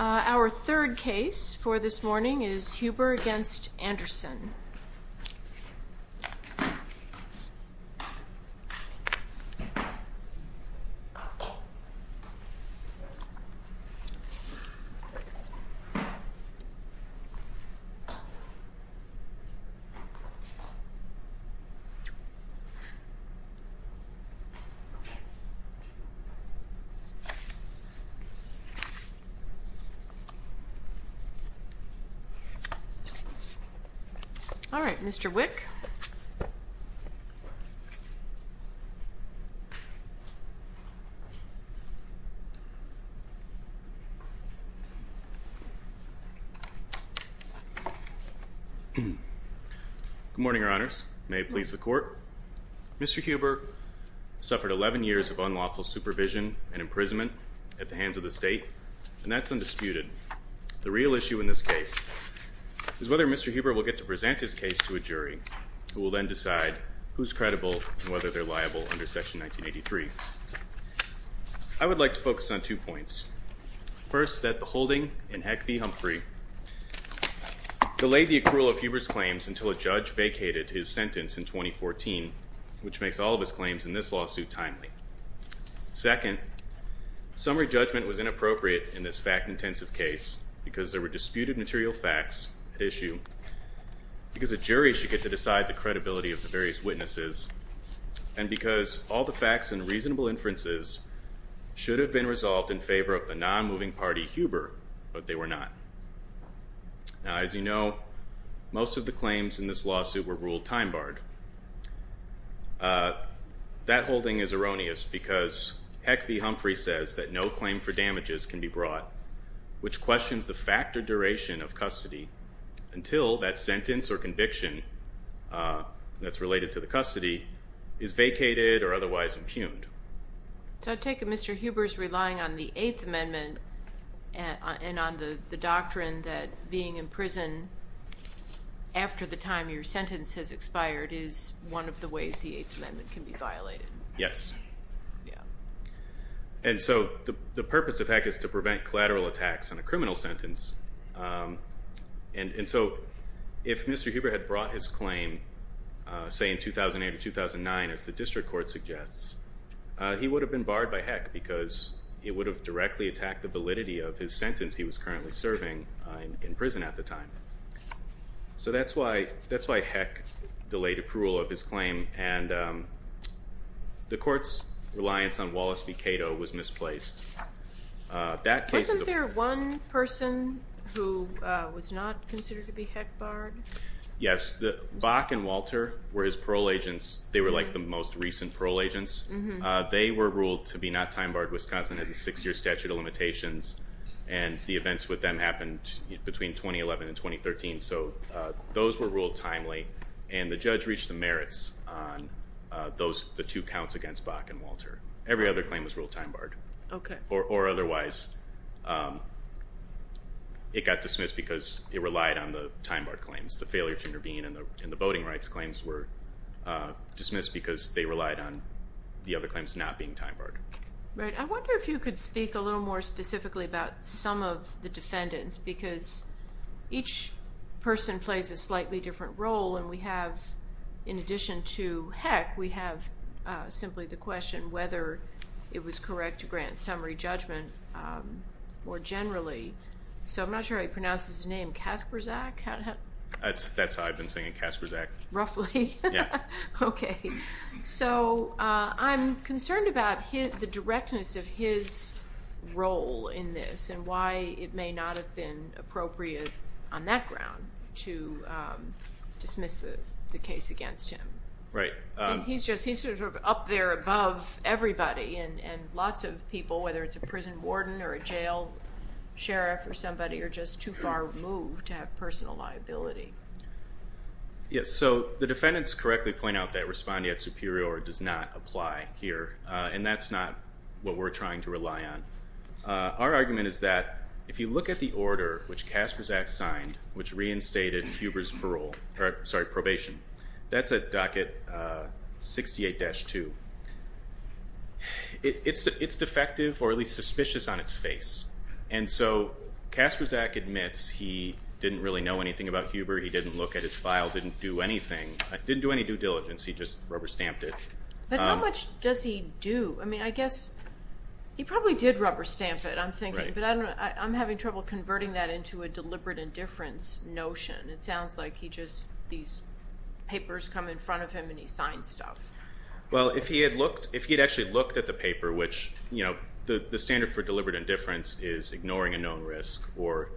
Our third case for this morning is Huber v. Anderson. This morning we have Huber v. Anderson. All right, Mr. Wick. Good morning, Your Honors. May it please the Court. Mr. Huber suffered 11 years of unlawful supervision and imprisonment at the hands of the state, and that's undisputed. The real issue in this case is whether Mr. Huber will get to present his case to a jury, who will then decide who's credible and whether they're liable under Section 1983. I would like to focus on two points. First, that the holding in Heck v. Humphrey delayed the accrual of Huber's claims until a judge vacated his sentence in 2014, which makes all of his claims in this lawsuit timely. Second, summary judgment was inappropriate in this fact-intensive case because there were disputed material facts at issue, because a jury should get to decide the credibility of the various witnesses, and because all the facts and reasonable inferences should have been resolved in favor of the non-moving party Huber, but they were not. Now, as you know, most of the claims in this lawsuit were ruled time-barred. That holding is erroneous because Heck v. Humphrey says that no claim for damages can be brought, which questions the fact or duration of custody, until that sentence or conviction that's related to the custody is vacated or otherwise impugned. So I take it Mr. Huber's relying on the Eighth Amendment and on the doctrine that being in prison after the time your sentence has expired is one of the ways the Eighth Amendment can be violated. Yes. Yeah. And so the purpose of Heck is to prevent collateral attacks on a criminal sentence. And so if Mr. Huber had brought his claim, say in 2008 or 2009, as the district court suggests, he would have been barred by Heck because it would have directly attacked the validity of his sentence he was currently serving in prison at the time. So that's why Heck delayed approval of his claim, and the court's reliance on Wallace v. Cato was misplaced. Wasn't there one person who was not considered to be Heck-barred? Yes. Bach and Walter were his parole agents. They were like the most recent parole agents. They were ruled to be not time-barred. Wisconsin has a six-year statute of limitations, and the events with them happened between 2011 and 2013. So those were ruled timely, and the judge reached the merits on the two counts against Bach and Walter. Every other claim was ruled time-barred. Okay. Or otherwise, it got dismissed because it relied on the time-barred claims. The failure to intervene in the voting rights claims were dismissed because they relied on the other claims not being time-barred. Right. I wonder if you could speak a little more specifically about some of the defendants, because each person plays a slightly different role, and we have, in addition to Heck, we have simply the question whether it was correct to grant summary judgment more generally. So I'm not sure how you pronounce his name, Kasperzak? That's how I've been saying it, Kasperzak. Roughly? Yeah. Okay. So I'm concerned about the directness of his role in this and why it may not have been appropriate on that ground to dismiss the case against him. Right. He's sort of up there above everybody and lots of people, whether it's a prison warden or a jail sheriff or somebody, are just too far removed to have personal liability. Yes. So the defendants correctly point out that respondeat superior does not apply here, and that's not what we're trying to rely on. Our argument is that if you look at the order which Kasperzak signed, which reinstated Huber's probation, that's at docket 68-2, it's defective or at least suspicious on its face. And so Kasperzak admits he didn't really know anything about Huber, he didn't look at his file, didn't do anything, didn't do any due diligence, he just rubber-stamped it. But how much does he do? I mean, I guess he probably did rubber-stamp it, I'm thinking, but I'm having trouble converting that into a deliberate indifference notion. It sounds like he just, these papers come in front of him and he signs stuff. Well, if he had looked, if he had actually looked at the paper, which the standard for deliberate indifference is ignoring a known risk or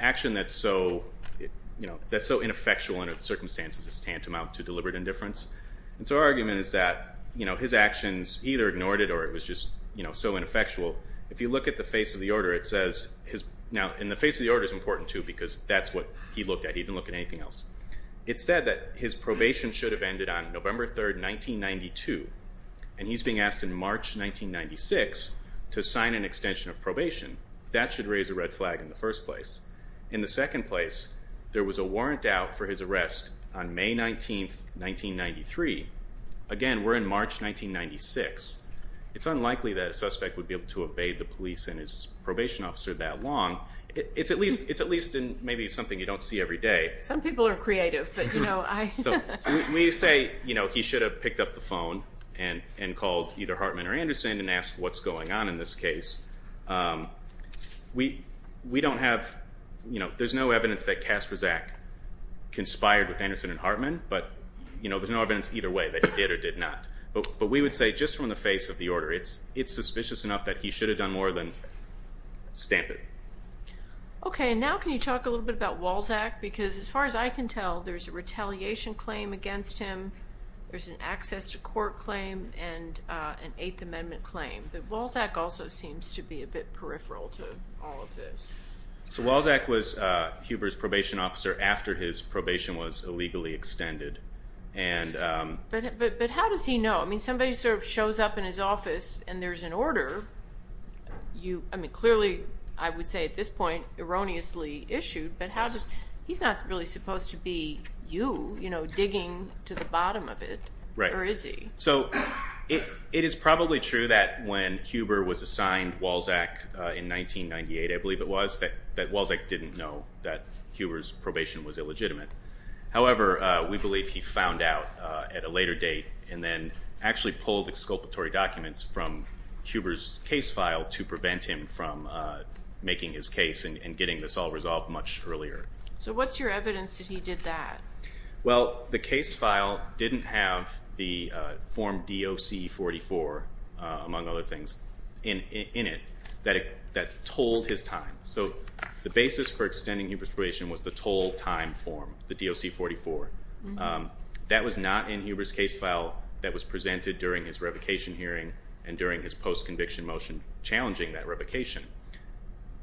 action that's so ineffectual under the circumstances is tantamount to deliberate indifference. And so our argument is that his actions either ignored it or it was just so ineffectual. If you look at the face of the order, it says, now, and the face of the order is important, too, because that's what he looked at. He didn't look at anything else. It said that his probation should have ended on November 3, 1992, and he's being asked in March 1996 to sign an extension of probation. That should raise a red flag in the first place. In the second place, there was a warrant out for his arrest on May 19, 1993. Again, we're in March 1996. It's unlikely that a suspect would be able to obey the police and his probation officer that long. It's at least maybe something you don't see every day. Some people are creative, but, you know, I. So we say, you know, he should have picked up the phone and called either Hartman or Anderson and asked what's going on in this case. We don't have, you know, there's no evidence that Kasperczak conspired with Anderson and Hartman, but, you know, there's no evidence either way that he did or did not. But we would say just from the face of the order, it's suspicious enough that he should have done more than stamp it. Okay, and now can you talk a little bit about Walzak? Because as far as I can tell, there's a retaliation claim against him, there's an access to court claim, and an Eighth Amendment claim. But Walzak also seems to be a bit peripheral to all of this. So Walzak was Huber's probation officer after his probation was illegally extended. But how does he know? I mean, somebody sort of shows up in his office and there's an order. I mean, clearly I would say at this point erroneously issued, but he's not really supposed to be you, you know, digging to the bottom of it. Right. Or is he? So it is probably true that when Huber was assigned Walzak in 1998, I believe it was, that Walzak didn't know that Huber's probation was illegitimate. However, we believe he found out at a later date and then actually pulled the exculpatory documents from Huber's case file to prevent him from making his case and getting this all resolved much earlier. So what's your evidence that he did that? Well, the case file didn't have the Form DOC-44, among other things, in it that told his time. So the basis for extending Huber's probation was the total time form, the DOC-44. That was not in Huber's case file that was presented during his revocation hearing and during his post-conviction motion challenging that revocation.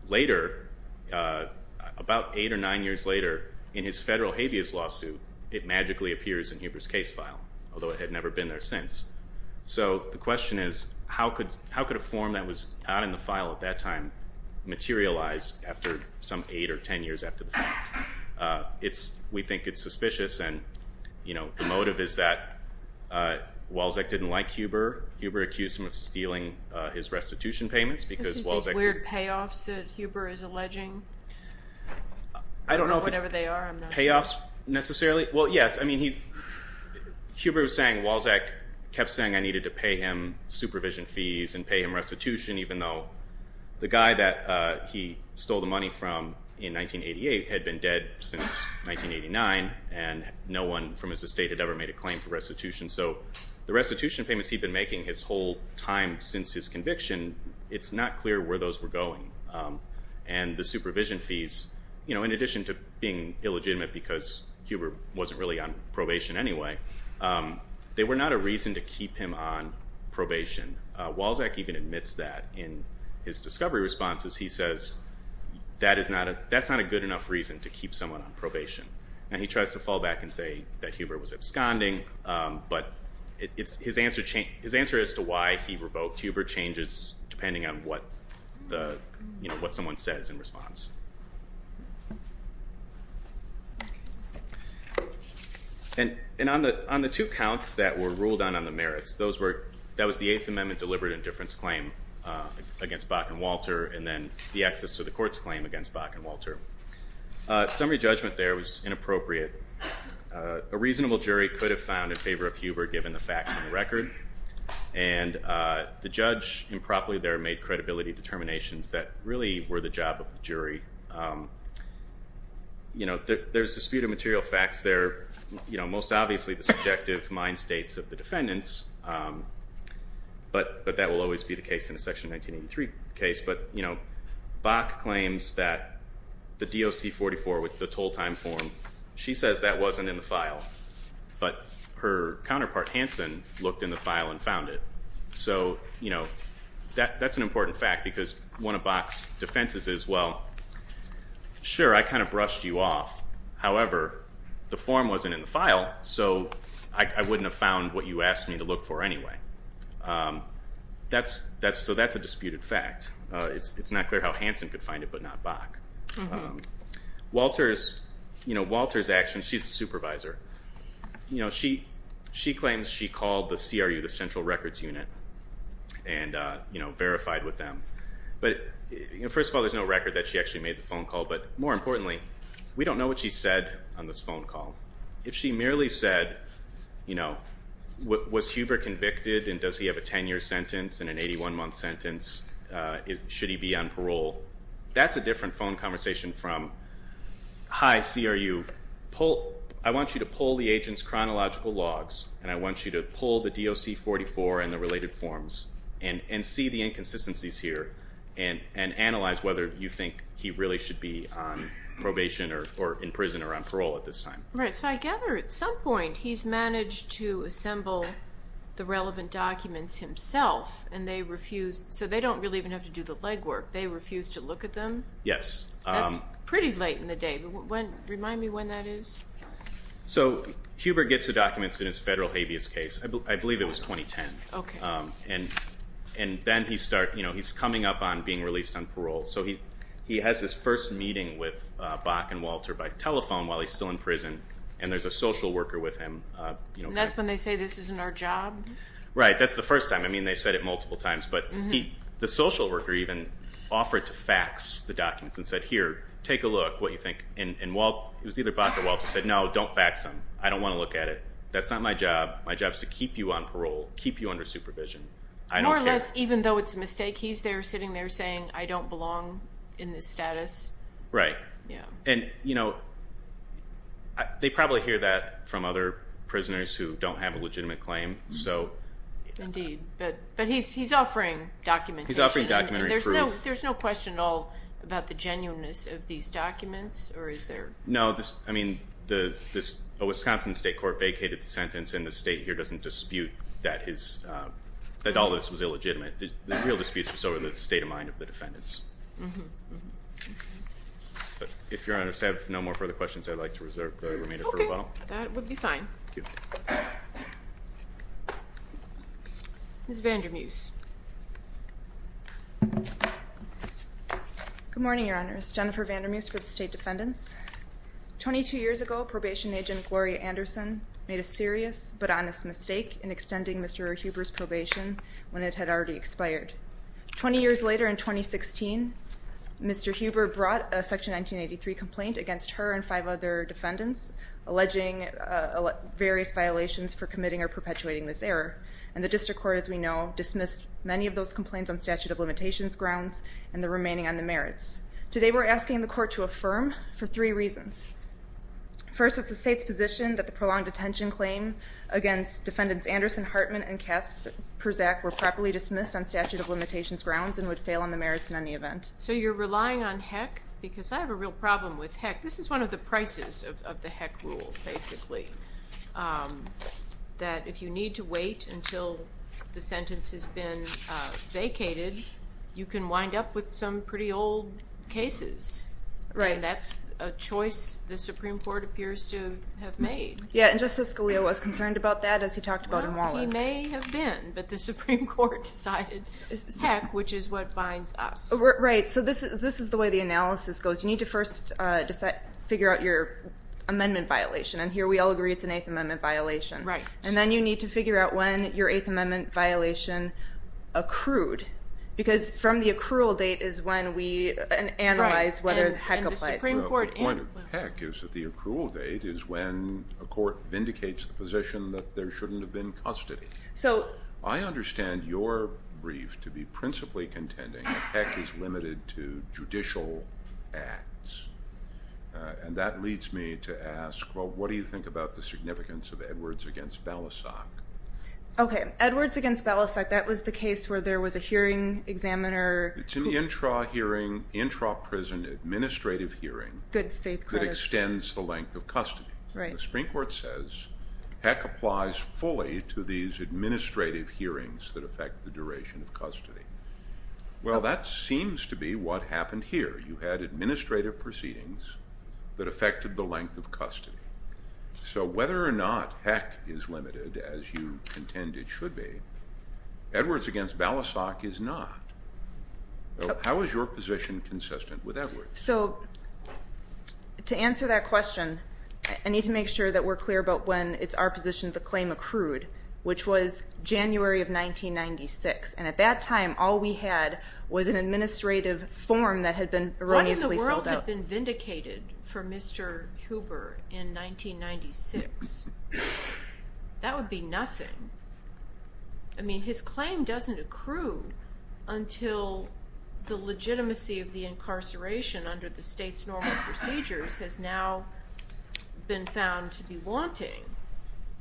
Later, about eight or nine years later, in his federal habeas lawsuit, it magically appears in Huber's case file, although it had never been there since. So the question is, how could a form that was not in the file at that time materialize after some eight or ten years after the fact? We think it's suspicious, and the motive is that Walzak didn't like Huber. Huber accused him of stealing his restitution payments because Walzak— Is it these weird payoffs that Huber is alleging? I don't know if it's payoffs necessarily. Well, yes. Huber was saying Walzak kept saying I needed to pay him supervision fees and pay him restitution, even though the guy that he stole the money from in 1988 had been dead since 1989, and no one from his estate had ever made a claim for restitution. So the restitution payments he'd been making his whole time since his conviction, it's not clear where those were going. And the supervision fees, in addition to being illegitimate because Huber wasn't really on probation anyway, they were not a reason to keep him on probation. Walzak even admits that in his discovery responses. He says that's not a good enough reason to keep someone on probation. And he tries to fall back and say that Huber was absconding, but his answer as to why he revoked Huber changes depending on what someone says in response. And on the two counts that were ruled on on the merits, that was the Eighth Amendment deliberate indifference claim against Bach and Walter and then the access to the courts claim against Bach and Walter. Summary judgment there was inappropriate. A reasonable jury could have found in favor of Huber given the facts and the record, and the judge improperly there made credibility determinations that really were the job of the jury. There's disputed material facts there, most obviously the subjective mind states of the defendants, but that will always be the case in a Section 1983 case. But Bach claims that the DOC 44 with the toll time form, she says that wasn't in the file, but her counterpart Hanson looked in the file and found it. So that's an important fact because one of Bach's defenses is, well, sure, I kind of brushed you off. However, the form wasn't in the file, so I wouldn't have found what you asked me to look for anyway. So that's a disputed fact. Walter's action, she's the supervisor. She claims she called the CRU, the Central Records Unit, and verified with them. But first of all, there's no record that she actually made the phone call, but more importantly, we don't know what she said on this phone call. If she merely said, was Huber convicted and does he have a 10-year sentence and an 81-month sentence, should he be on parole? That's a different phone conversation from, hi, CRU, I want you to pull the agent's chronological logs, and I want you to pull the DOC 44 and the related forms and see the inconsistencies here and analyze whether you think he really should be on probation or in prison or on parole at this time. Right, so I gather at some point he's managed to assemble the relevant documents himself, and they refuse. So they don't really even have to do the legwork. They refuse to look at them? Yes. That's pretty late in the day. Remind me when that is. So Huber gets the documents in his federal habeas case. I believe it was 2010. Okay. And then he's coming up on being released on parole. So he has his first meeting with Bach and Walter by telephone while he's still in prison, and there's a social worker with him. And that's when they say this isn't our job? Right, that's the first time. I mean, they said it multiple times. But the social worker even offered to fax the documents and said, here, take a look, what you think. And it was either Bach or Walter who said, no, don't fax them. I don't want to look at it. That's not my job. My job is to keep you on parole, keep you under supervision. More or less, even though it's a mistake, he's there sitting there saying, I don't belong in this status. Right. Yeah. And, you know, they probably hear that from other prisoners who don't have a legitimate claim. Indeed. But he's offering documentation. He's offering documentary proof. And there's no question at all about the genuineness of these documents, or is there? No. I mean, a Wisconsin state court vacated the sentence, and the state here doesn't dispute that all this was illegitimate. The real dispute is over the state of mind of the defendants. Mm-hmm. But, if Your Honors have no more further questions, I'd like to reserve the remainder for rebuttal. Okay. That would be fine. Thank you. Ms. Vandermeuse. Good morning, Your Honors. Jennifer Vandermeuse for the State Defendants. Twenty-two years ago, probation agent Gloria Anderson made a serious but honest mistake in extending Mr. Huber's probation when it had already expired. Twenty years later, in 2016, Mr. Huber brought a Section 1983 complaint against her and five other defendants alleging various violations for committing or perpetuating this error. And the district court, as we know, dismissed many of those complaints on statute of limitations grounds and the remaining on the merits. Today we're asking the court to affirm for three reasons. First, it's the state's position that the prolonged detention claim against Defendants Anderson, Hartman, and Kasperczak were properly dismissed on statute of limitations grounds and would fail on the merits in any event. So you're relying on Heck, because I have a real problem with Heck. This is one of the prices of the Heck rule, basically. That if you need to wait until the sentence has been vacated, you can wind up with some pretty old cases. And that's a choice the Supreme Court appears to have made. Yeah, and Justice Scalia was concerned about that, as he talked about in Wallace. Well, he may have been, but the Supreme Court decided it's Heck, which is what binds us. Right. So this is the way the analysis goes. You need to first figure out your amendment violation. And here we all agree it's an Eighth Amendment violation. Right. And then you need to figure out when your Eighth Amendment violation accrued, because from the accrual date is when we analyze whether Heck applies. The point of Heck is that the accrual date is when a court vindicates the position that there shouldn't have been custody. I understand your brief to be principally contending that Heck is limited to judicial acts. And that leads me to ask, well, what do you think about the significance of Edwards v. Balasag? Okay, Edwards v. Balasag, that was the case where there was a hearing examiner. It's in the intra-prison administrative hearing. Good faith. That extends the length of custody. Right. The Supreme Court says Heck applies fully to these administrative hearings that affect the duration of custody. Well, that seems to be what happened here. You had administrative proceedings that affected the length of custody. So whether or not Heck is limited, as you contend it should be, Edwards v. Balasag is not. How is your position consistent with Edwards? So to answer that question, I need to make sure that we're clear about when it's our position the claim accrued, which was January of 1996. And at that time, all we had was an administrative form that had been erroneously filled out. What in the world had been vindicated for Mr. Huber in 1996? That would be nothing. I mean, his claim doesn't accrue until the legitimacy of the incarceration under the state's normal procedures has now been found to be wanting.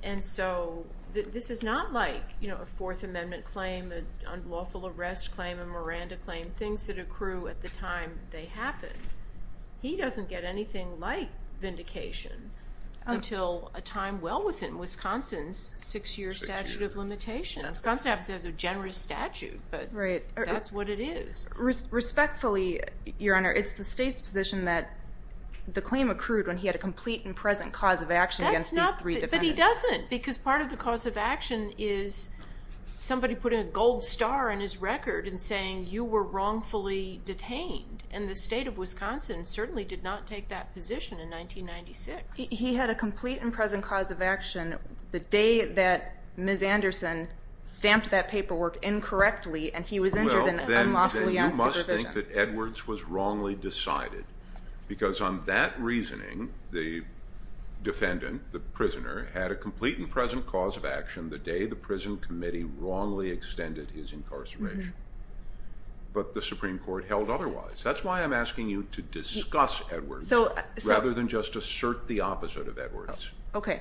And so this is not like a Fourth Amendment claim, an unlawful arrest claim, a Miranda claim, things that accrue at the time they happened. He doesn't get anything like vindication until a time well within Wisconsin's six-year statute of limitations. Wisconsin has a generous statute, but that's what it is. Respectfully, Your Honor, it's the state's position that the claim accrued when he had a complete and present cause of action against these three defendants. But he doesn't, because part of the cause of action is somebody putting a gold star on his record and saying you were wrongfully detained, and the state of Wisconsin certainly did not take that position in 1996. He had a complete and present cause of action the day that Ms. Anderson stamped that paperwork incorrectly and he was injured and unlawfully on supervision. Then you must think that Edwards was wrongly decided, because on that reasoning the defendant, the prisoner, had a complete and present cause of action the day the prison committee wrongly extended his incarceration. But the Supreme Court held otherwise. That's why I'm asking you to discuss Edwards rather than just assert the opposite of Edwards. Okay.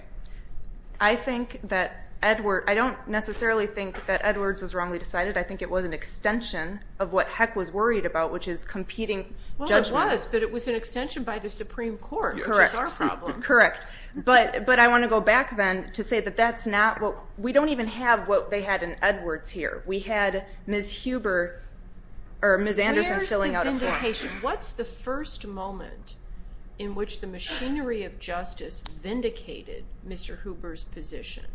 I think that Edwards, I don't necessarily think that Edwards was wrongly decided. I think it was an extension of what Heck was worried about, which is competing judgments. Well, it was, but it was an extension by the Supreme Court, which is our problem. Correct. But I want to go back then to say that that's not what, we don't even have what they had in Edwards here. We had Ms. Anderson filling out a form. Where's the vindication? What's the first moment in which the machinery of justice vindicated Mr. Huber's position?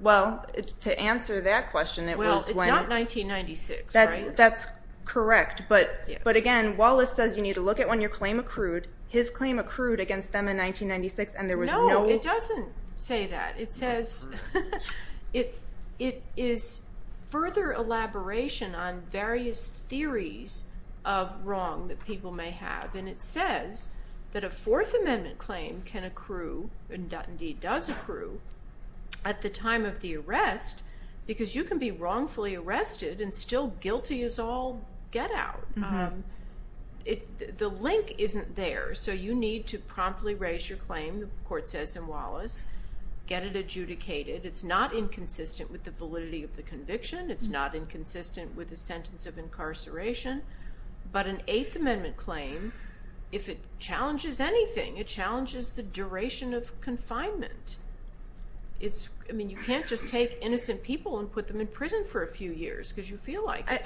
Well, to answer that question, it was when. Well, it's not 1996, right? That's correct. But again, Wallace says you need to look at when your claim accrued. His claim accrued against them in 1996, and there was no- No, it doesn't say that. It says, it is further elaboration on various theories of wrong that people may have. And it says that a Fourth Amendment claim can accrue, and indeed does accrue, at the time of the arrest because you can be wrongfully arrested and still guilty as all get out. The link isn't there, so you need to promptly raise your claim, the court says in Wallace, get it adjudicated. It's not inconsistent with the validity of the conviction. It's not inconsistent with the sentence of incarceration. But an Eighth Amendment claim, if it challenges anything, it challenges the duration of confinement. I mean, you can't just take innocent people and put them in prison for a few years because you feel like it.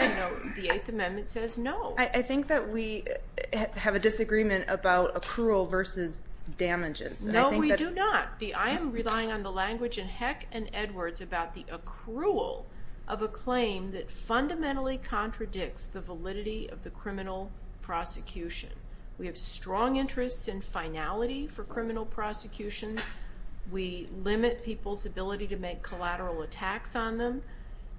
The Eighth Amendment says no. I think that we have a disagreement about accrual versus damages. No, we do not. I am relying on the language in Heck and Edwards about the accrual of a claim that fundamentally contradicts the validity of the criminal prosecution. We have strong interests in finality for criminal prosecutions. We limit people's ability to make collateral attacks on them.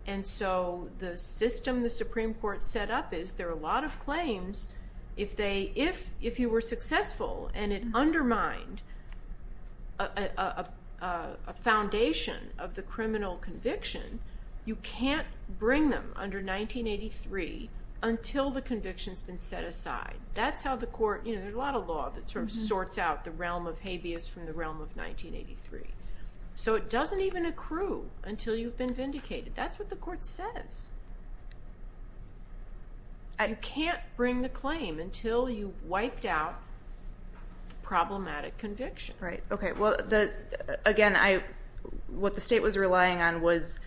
And so the system the Supreme Court set up is there are a lot of claims, if you were successful and it undermined a foundation of the criminal conviction, you can't bring them under 1983 until the conviction's been set aside. That's how the court, you know, there's a lot of law that sort of sorts out the realm of habeas from the realm of 1983. So it doesn't even accrue until you've been vindicated. That's what the court says. You can't bring the claim until you've wiped out problematic conviction. Right, okay. Well, again, what the state was relying on was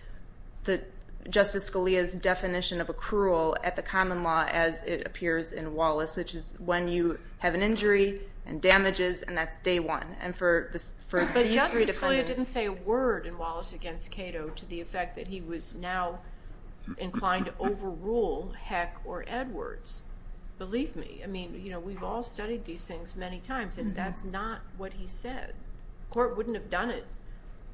Justice Scalia's definition of accrual at the common law as it appears in Wallace, which is when you have an injury and damages and that's day one. But Justice Scalia didn't say a word in Wallace against Cato to the effect that he was now inclined to overrule Heck or Edwards. Believe me. I mean, you know, we've all studied these things many times, and that's not what he said. The court wouldn't have done it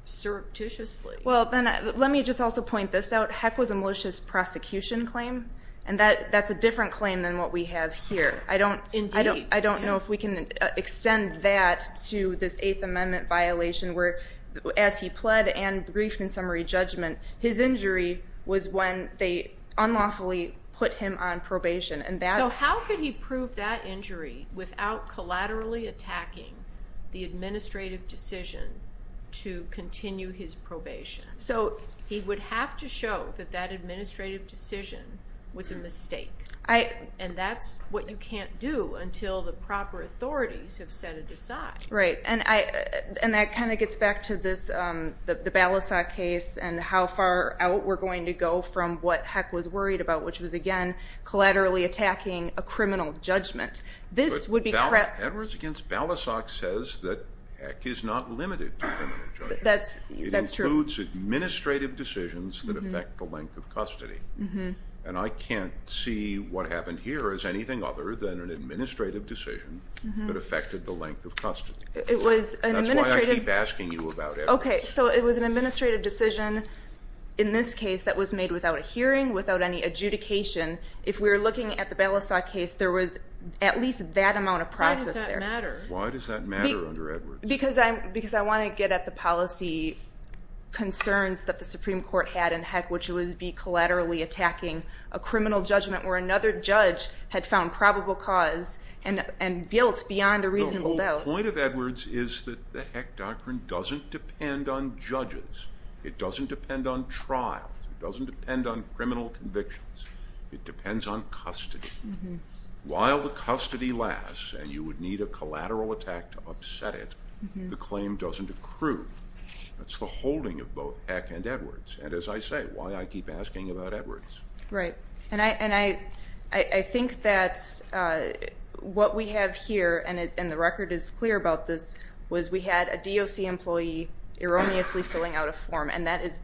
surreptitiously. Well, let me just also point this out. And that's a different claim than what we have here. Indeed. I don't know if we can extend that to this Eighth Amendment violation where as he pled and briefed in summary judgment, his injury was when they unlawfully put him on probation. So how could he prove that injury without collaterally attacking the administrative decision to continue his probation? So he would have to show that that administrative decision was a mistake. And that's what you can't do until the proper authorities have set it aside. Right. And that kind of gets back to the Balasag case and how far out we're going to go from what Heck was worried about, which was, again, collaterally attacking a criminal judgment. Edwards against Balasag says that Heck is not limited to criminal judgment. That's true. It includes administrative decisions that affect the length of custody. And I can't see what happened here as anything other than an administrative decision that affected the length of custody. That's why I keep asking you about Edwards. Okay. So it was an administrative decision in this case that was made without a hearing, without any adjudication. If we were looking at the Balasag case, there was at least that amount of process there. Why does that matter? Why does that matter under Edwards? Because I want to get at the policy concerns that the Supreme Court had in Heck, which would be collaterally attacking a criminal judgment where another judge had found probable cause and built beyond a reasonable doubt. The whole point of Edwards is that the Heck Doctrine doesn't depend on judges. It doesn't depend on trials. It doesn't depend on criminal convictions. It depends on custody. While the custody lasts and you would need a collateral attack to upset it, the claim doesn't accrue. That's the holding of both Heck and Edwards. And as I say, why I keep asking about Edwards. Right. And I think that what we have here, and the record is clear about this, was we had a DOC employee erroneously filling out a form, and that is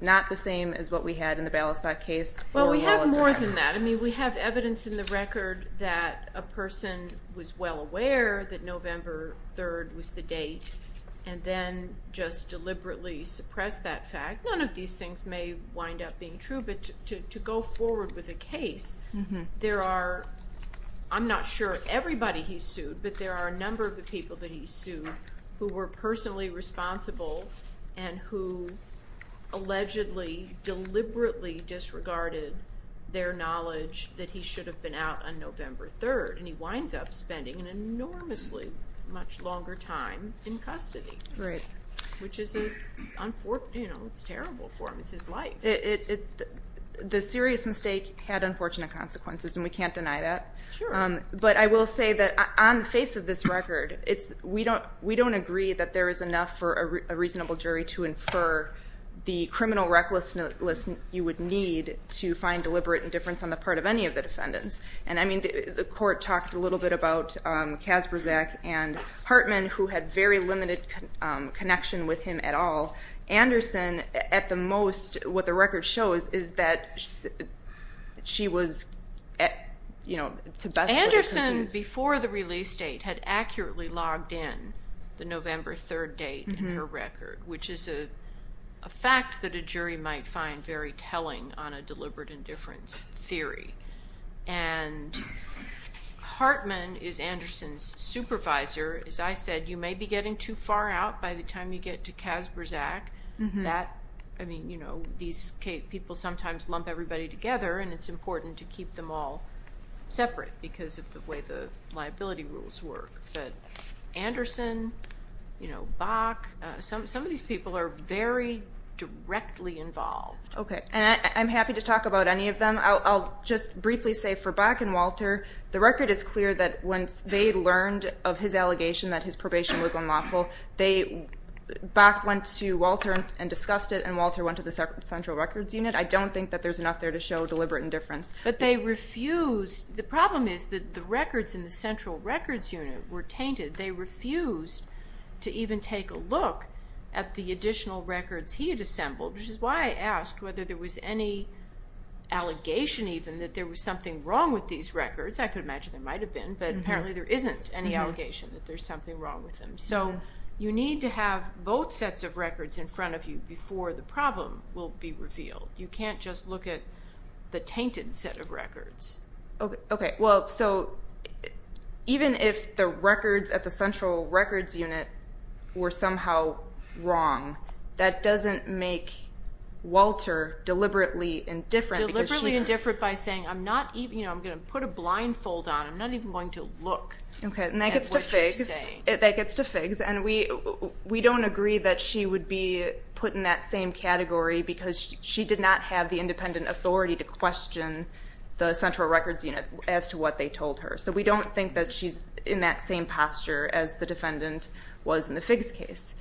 not the same as what we had in the Balasag case. Well, we have more than that. I mean, we have evidence in the record that a person was well aware that November 3rd was the date and then just deliberately suppressed that fact. None of these things may wind up being true, but to go forward with a case, there are, I'm not sure everybody he sued, but there are a number of the people that he sued who were personally responsible and who allegedly deliberately disregarded their knowledge that he should have been out on November 3rd. And he winds up spending an enormously much longer time in custody. Right. Which is a, you know, it's terrible for him. It's his life. The serious mistake had unfortunate consequences, and we can't deny that. Sure. But I will say that on the face of this record, we don't agree that there is enough for a reasonable jury to infer the criminal recklessness you would need to find deliberate indifference on the part of any of the defendants. And, I mean, the court talked a little bit about Kasperzak and Hartman, who had very limited connection with him at all. Anderson, at the most, what the record shows is that she was, you know, to best what it could be. Anderson, before the release date, had accurately logged in the November 3rd date in her record, which is a fact that a jury might find very telling on a deliberate indifference theory. And Hartman is Anderson's supervisor. As I said, you may be getting too far out by the time you get to Kasperzak. That, I mean, you know, these people sometimes lump everybody together, and it's important to keep them all separate because of the way the liability rules work. But Anderson, you know, Bach, some of these people are very directly involved. Okay. And I'm happy to talk about any of them. I'll just briefly say for Bach and Walter, the record is clear that once they learned of his allegation that his probation was unlawful, Bach went to Walter and discussed it, and Walter went to the Central Records Unit. I don't think that there's enough there to show deliberate indifference. But they refused. The problem is that the records in the Central Records Unit were tainted. They refused to even take a look at the additional records he had assembled, which is why I asked whether there was any allegation even that there was something wrong with these records. I could imagine there might have been, but apparently there isn't any allegation that there's something wrong with them. So you need to have both sets of records in front of you before the problem will be revealed. You can't just look at the tainted set of records. Okay. Well, so even if the records at the Central Records Unit were somehow wrong, that doesn't make Walter deliberately indifferent. Deliberately indifferent by saying, you know, I'm going to put a blindfold on. I'm not even going to look at what you're saying. Okay. And that gets to Figgs. And we don't agree that she would be put in that same category because she did not have the independent authority to question the Central Records Unit as to what they told her. So we don't think that she's in that same posture as the defendant was in the Figgs case.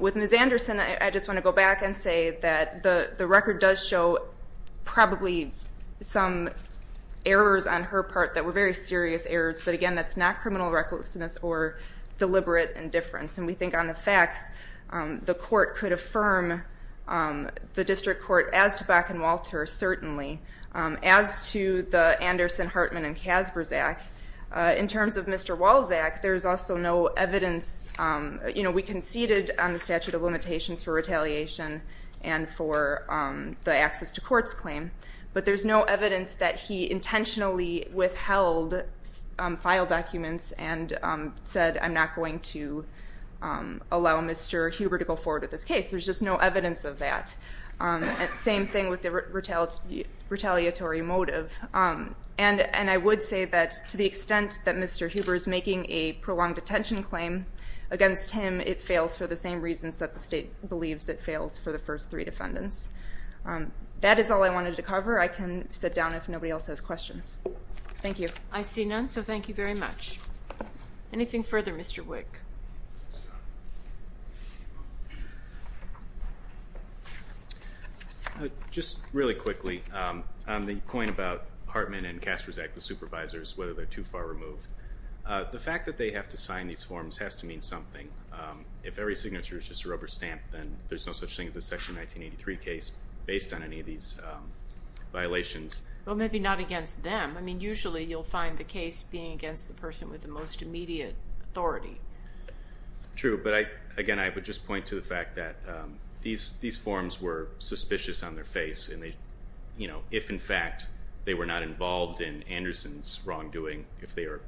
With Ms. Anderson, I just want to go back and say that the record does show probably some errors on her part that were very serious errors, but, again, that's not criminal recklessness or deliberate indifference. And we think on the facts, the court could affirm the district court as to Bach and Walter, certainly, as to the Anderson, Hartman, and Kasbersack. In terms of Mr. Walczak, there's also no evidence. You know, we conceded on the statute of limitations for retaliation and for the access to courts claim, but there's no evidence that he intentionally withheld file documents and said, I'm not going to allow Mr. Huber to go forward with this case. There's just no evidence of that. Same thing with the retaliatory motive. And I would say that to the extent that Mr. Huber is making a prolonged detention claim against him, it fails for the same reasons that the state believes it fails for the first three defendants. That is all I wanted to cover. I can sit down if nobody else has questions. Thank you. I see none, so thank you very much. Anything further, Mr. Wick? Just really quickly, the point about Hartman and Kasbersack, the supervisors, whether they're too far removed, the fact that they have to sign these forms has to mean something. If every signature is just a rubber stamp, then there's no such thing as a Section 1983 case based on any of these violations. Well, maybe not against them. I mean, usually you'll find the case being against the person with the most immediate authority. True, but again, I would just point to the fact that these forms were suspicious on their face, and if, in fact, they were not involved in Anderson's wrongdoing, if they are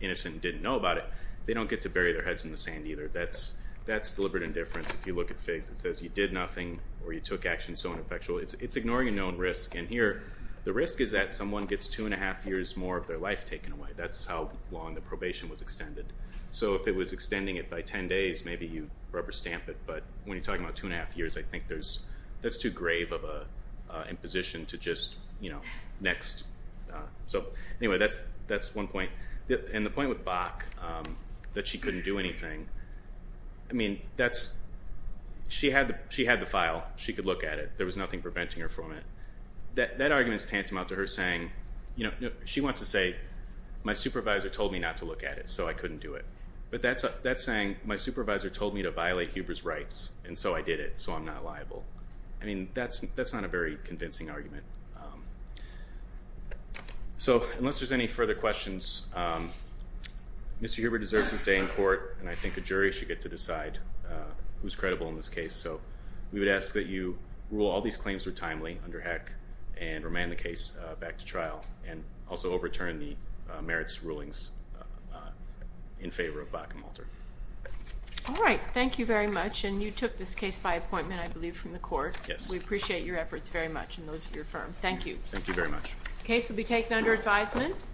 innocent and didn't know about it, they don't get to bury their heads in the sand either. That's deliberate indifference. If you look at FIGS, it says you did nothing or you took action so ineffectual. It's ignoring a known risk, and here the risk is that someone gets two and a half years more of their life taken away. That's how long the probation was extended. So if it was extending it by 10 days, maybe you rubber stamp it, but when you're talking about two and a half years, I think that's too grave of an imposition to just, you know, next. So anyway, that's one point. And the point with Bach, that she couldn't do anything, I mean, she had the file. She could look at it. There was nothing preventing her from it. That argument is tantamount to her saying, you know, she wants to say, my supervisor told me not to look at it, so I couldn't do it. But that's saying my supervisor told me to violate Huber's rights, and so I did it, so I'm not liable. I mean, that's not a very convincing argument. So unless there's any further questions, Mr. Huber deserves his day in court, and I think a jury should get to decide who's credible in this case. So we would ask that you rule all these claims were timely under HEC and remand the case back to trial and also overturn the merits rulings in favor of Bach and Malter. All right. Thank you very much, and you took this case by appointment, I believe, from the court. Yes. We appreciate your efforts very much and those of your firm. Thank you. Thank you very much. The case will be taken under advisement.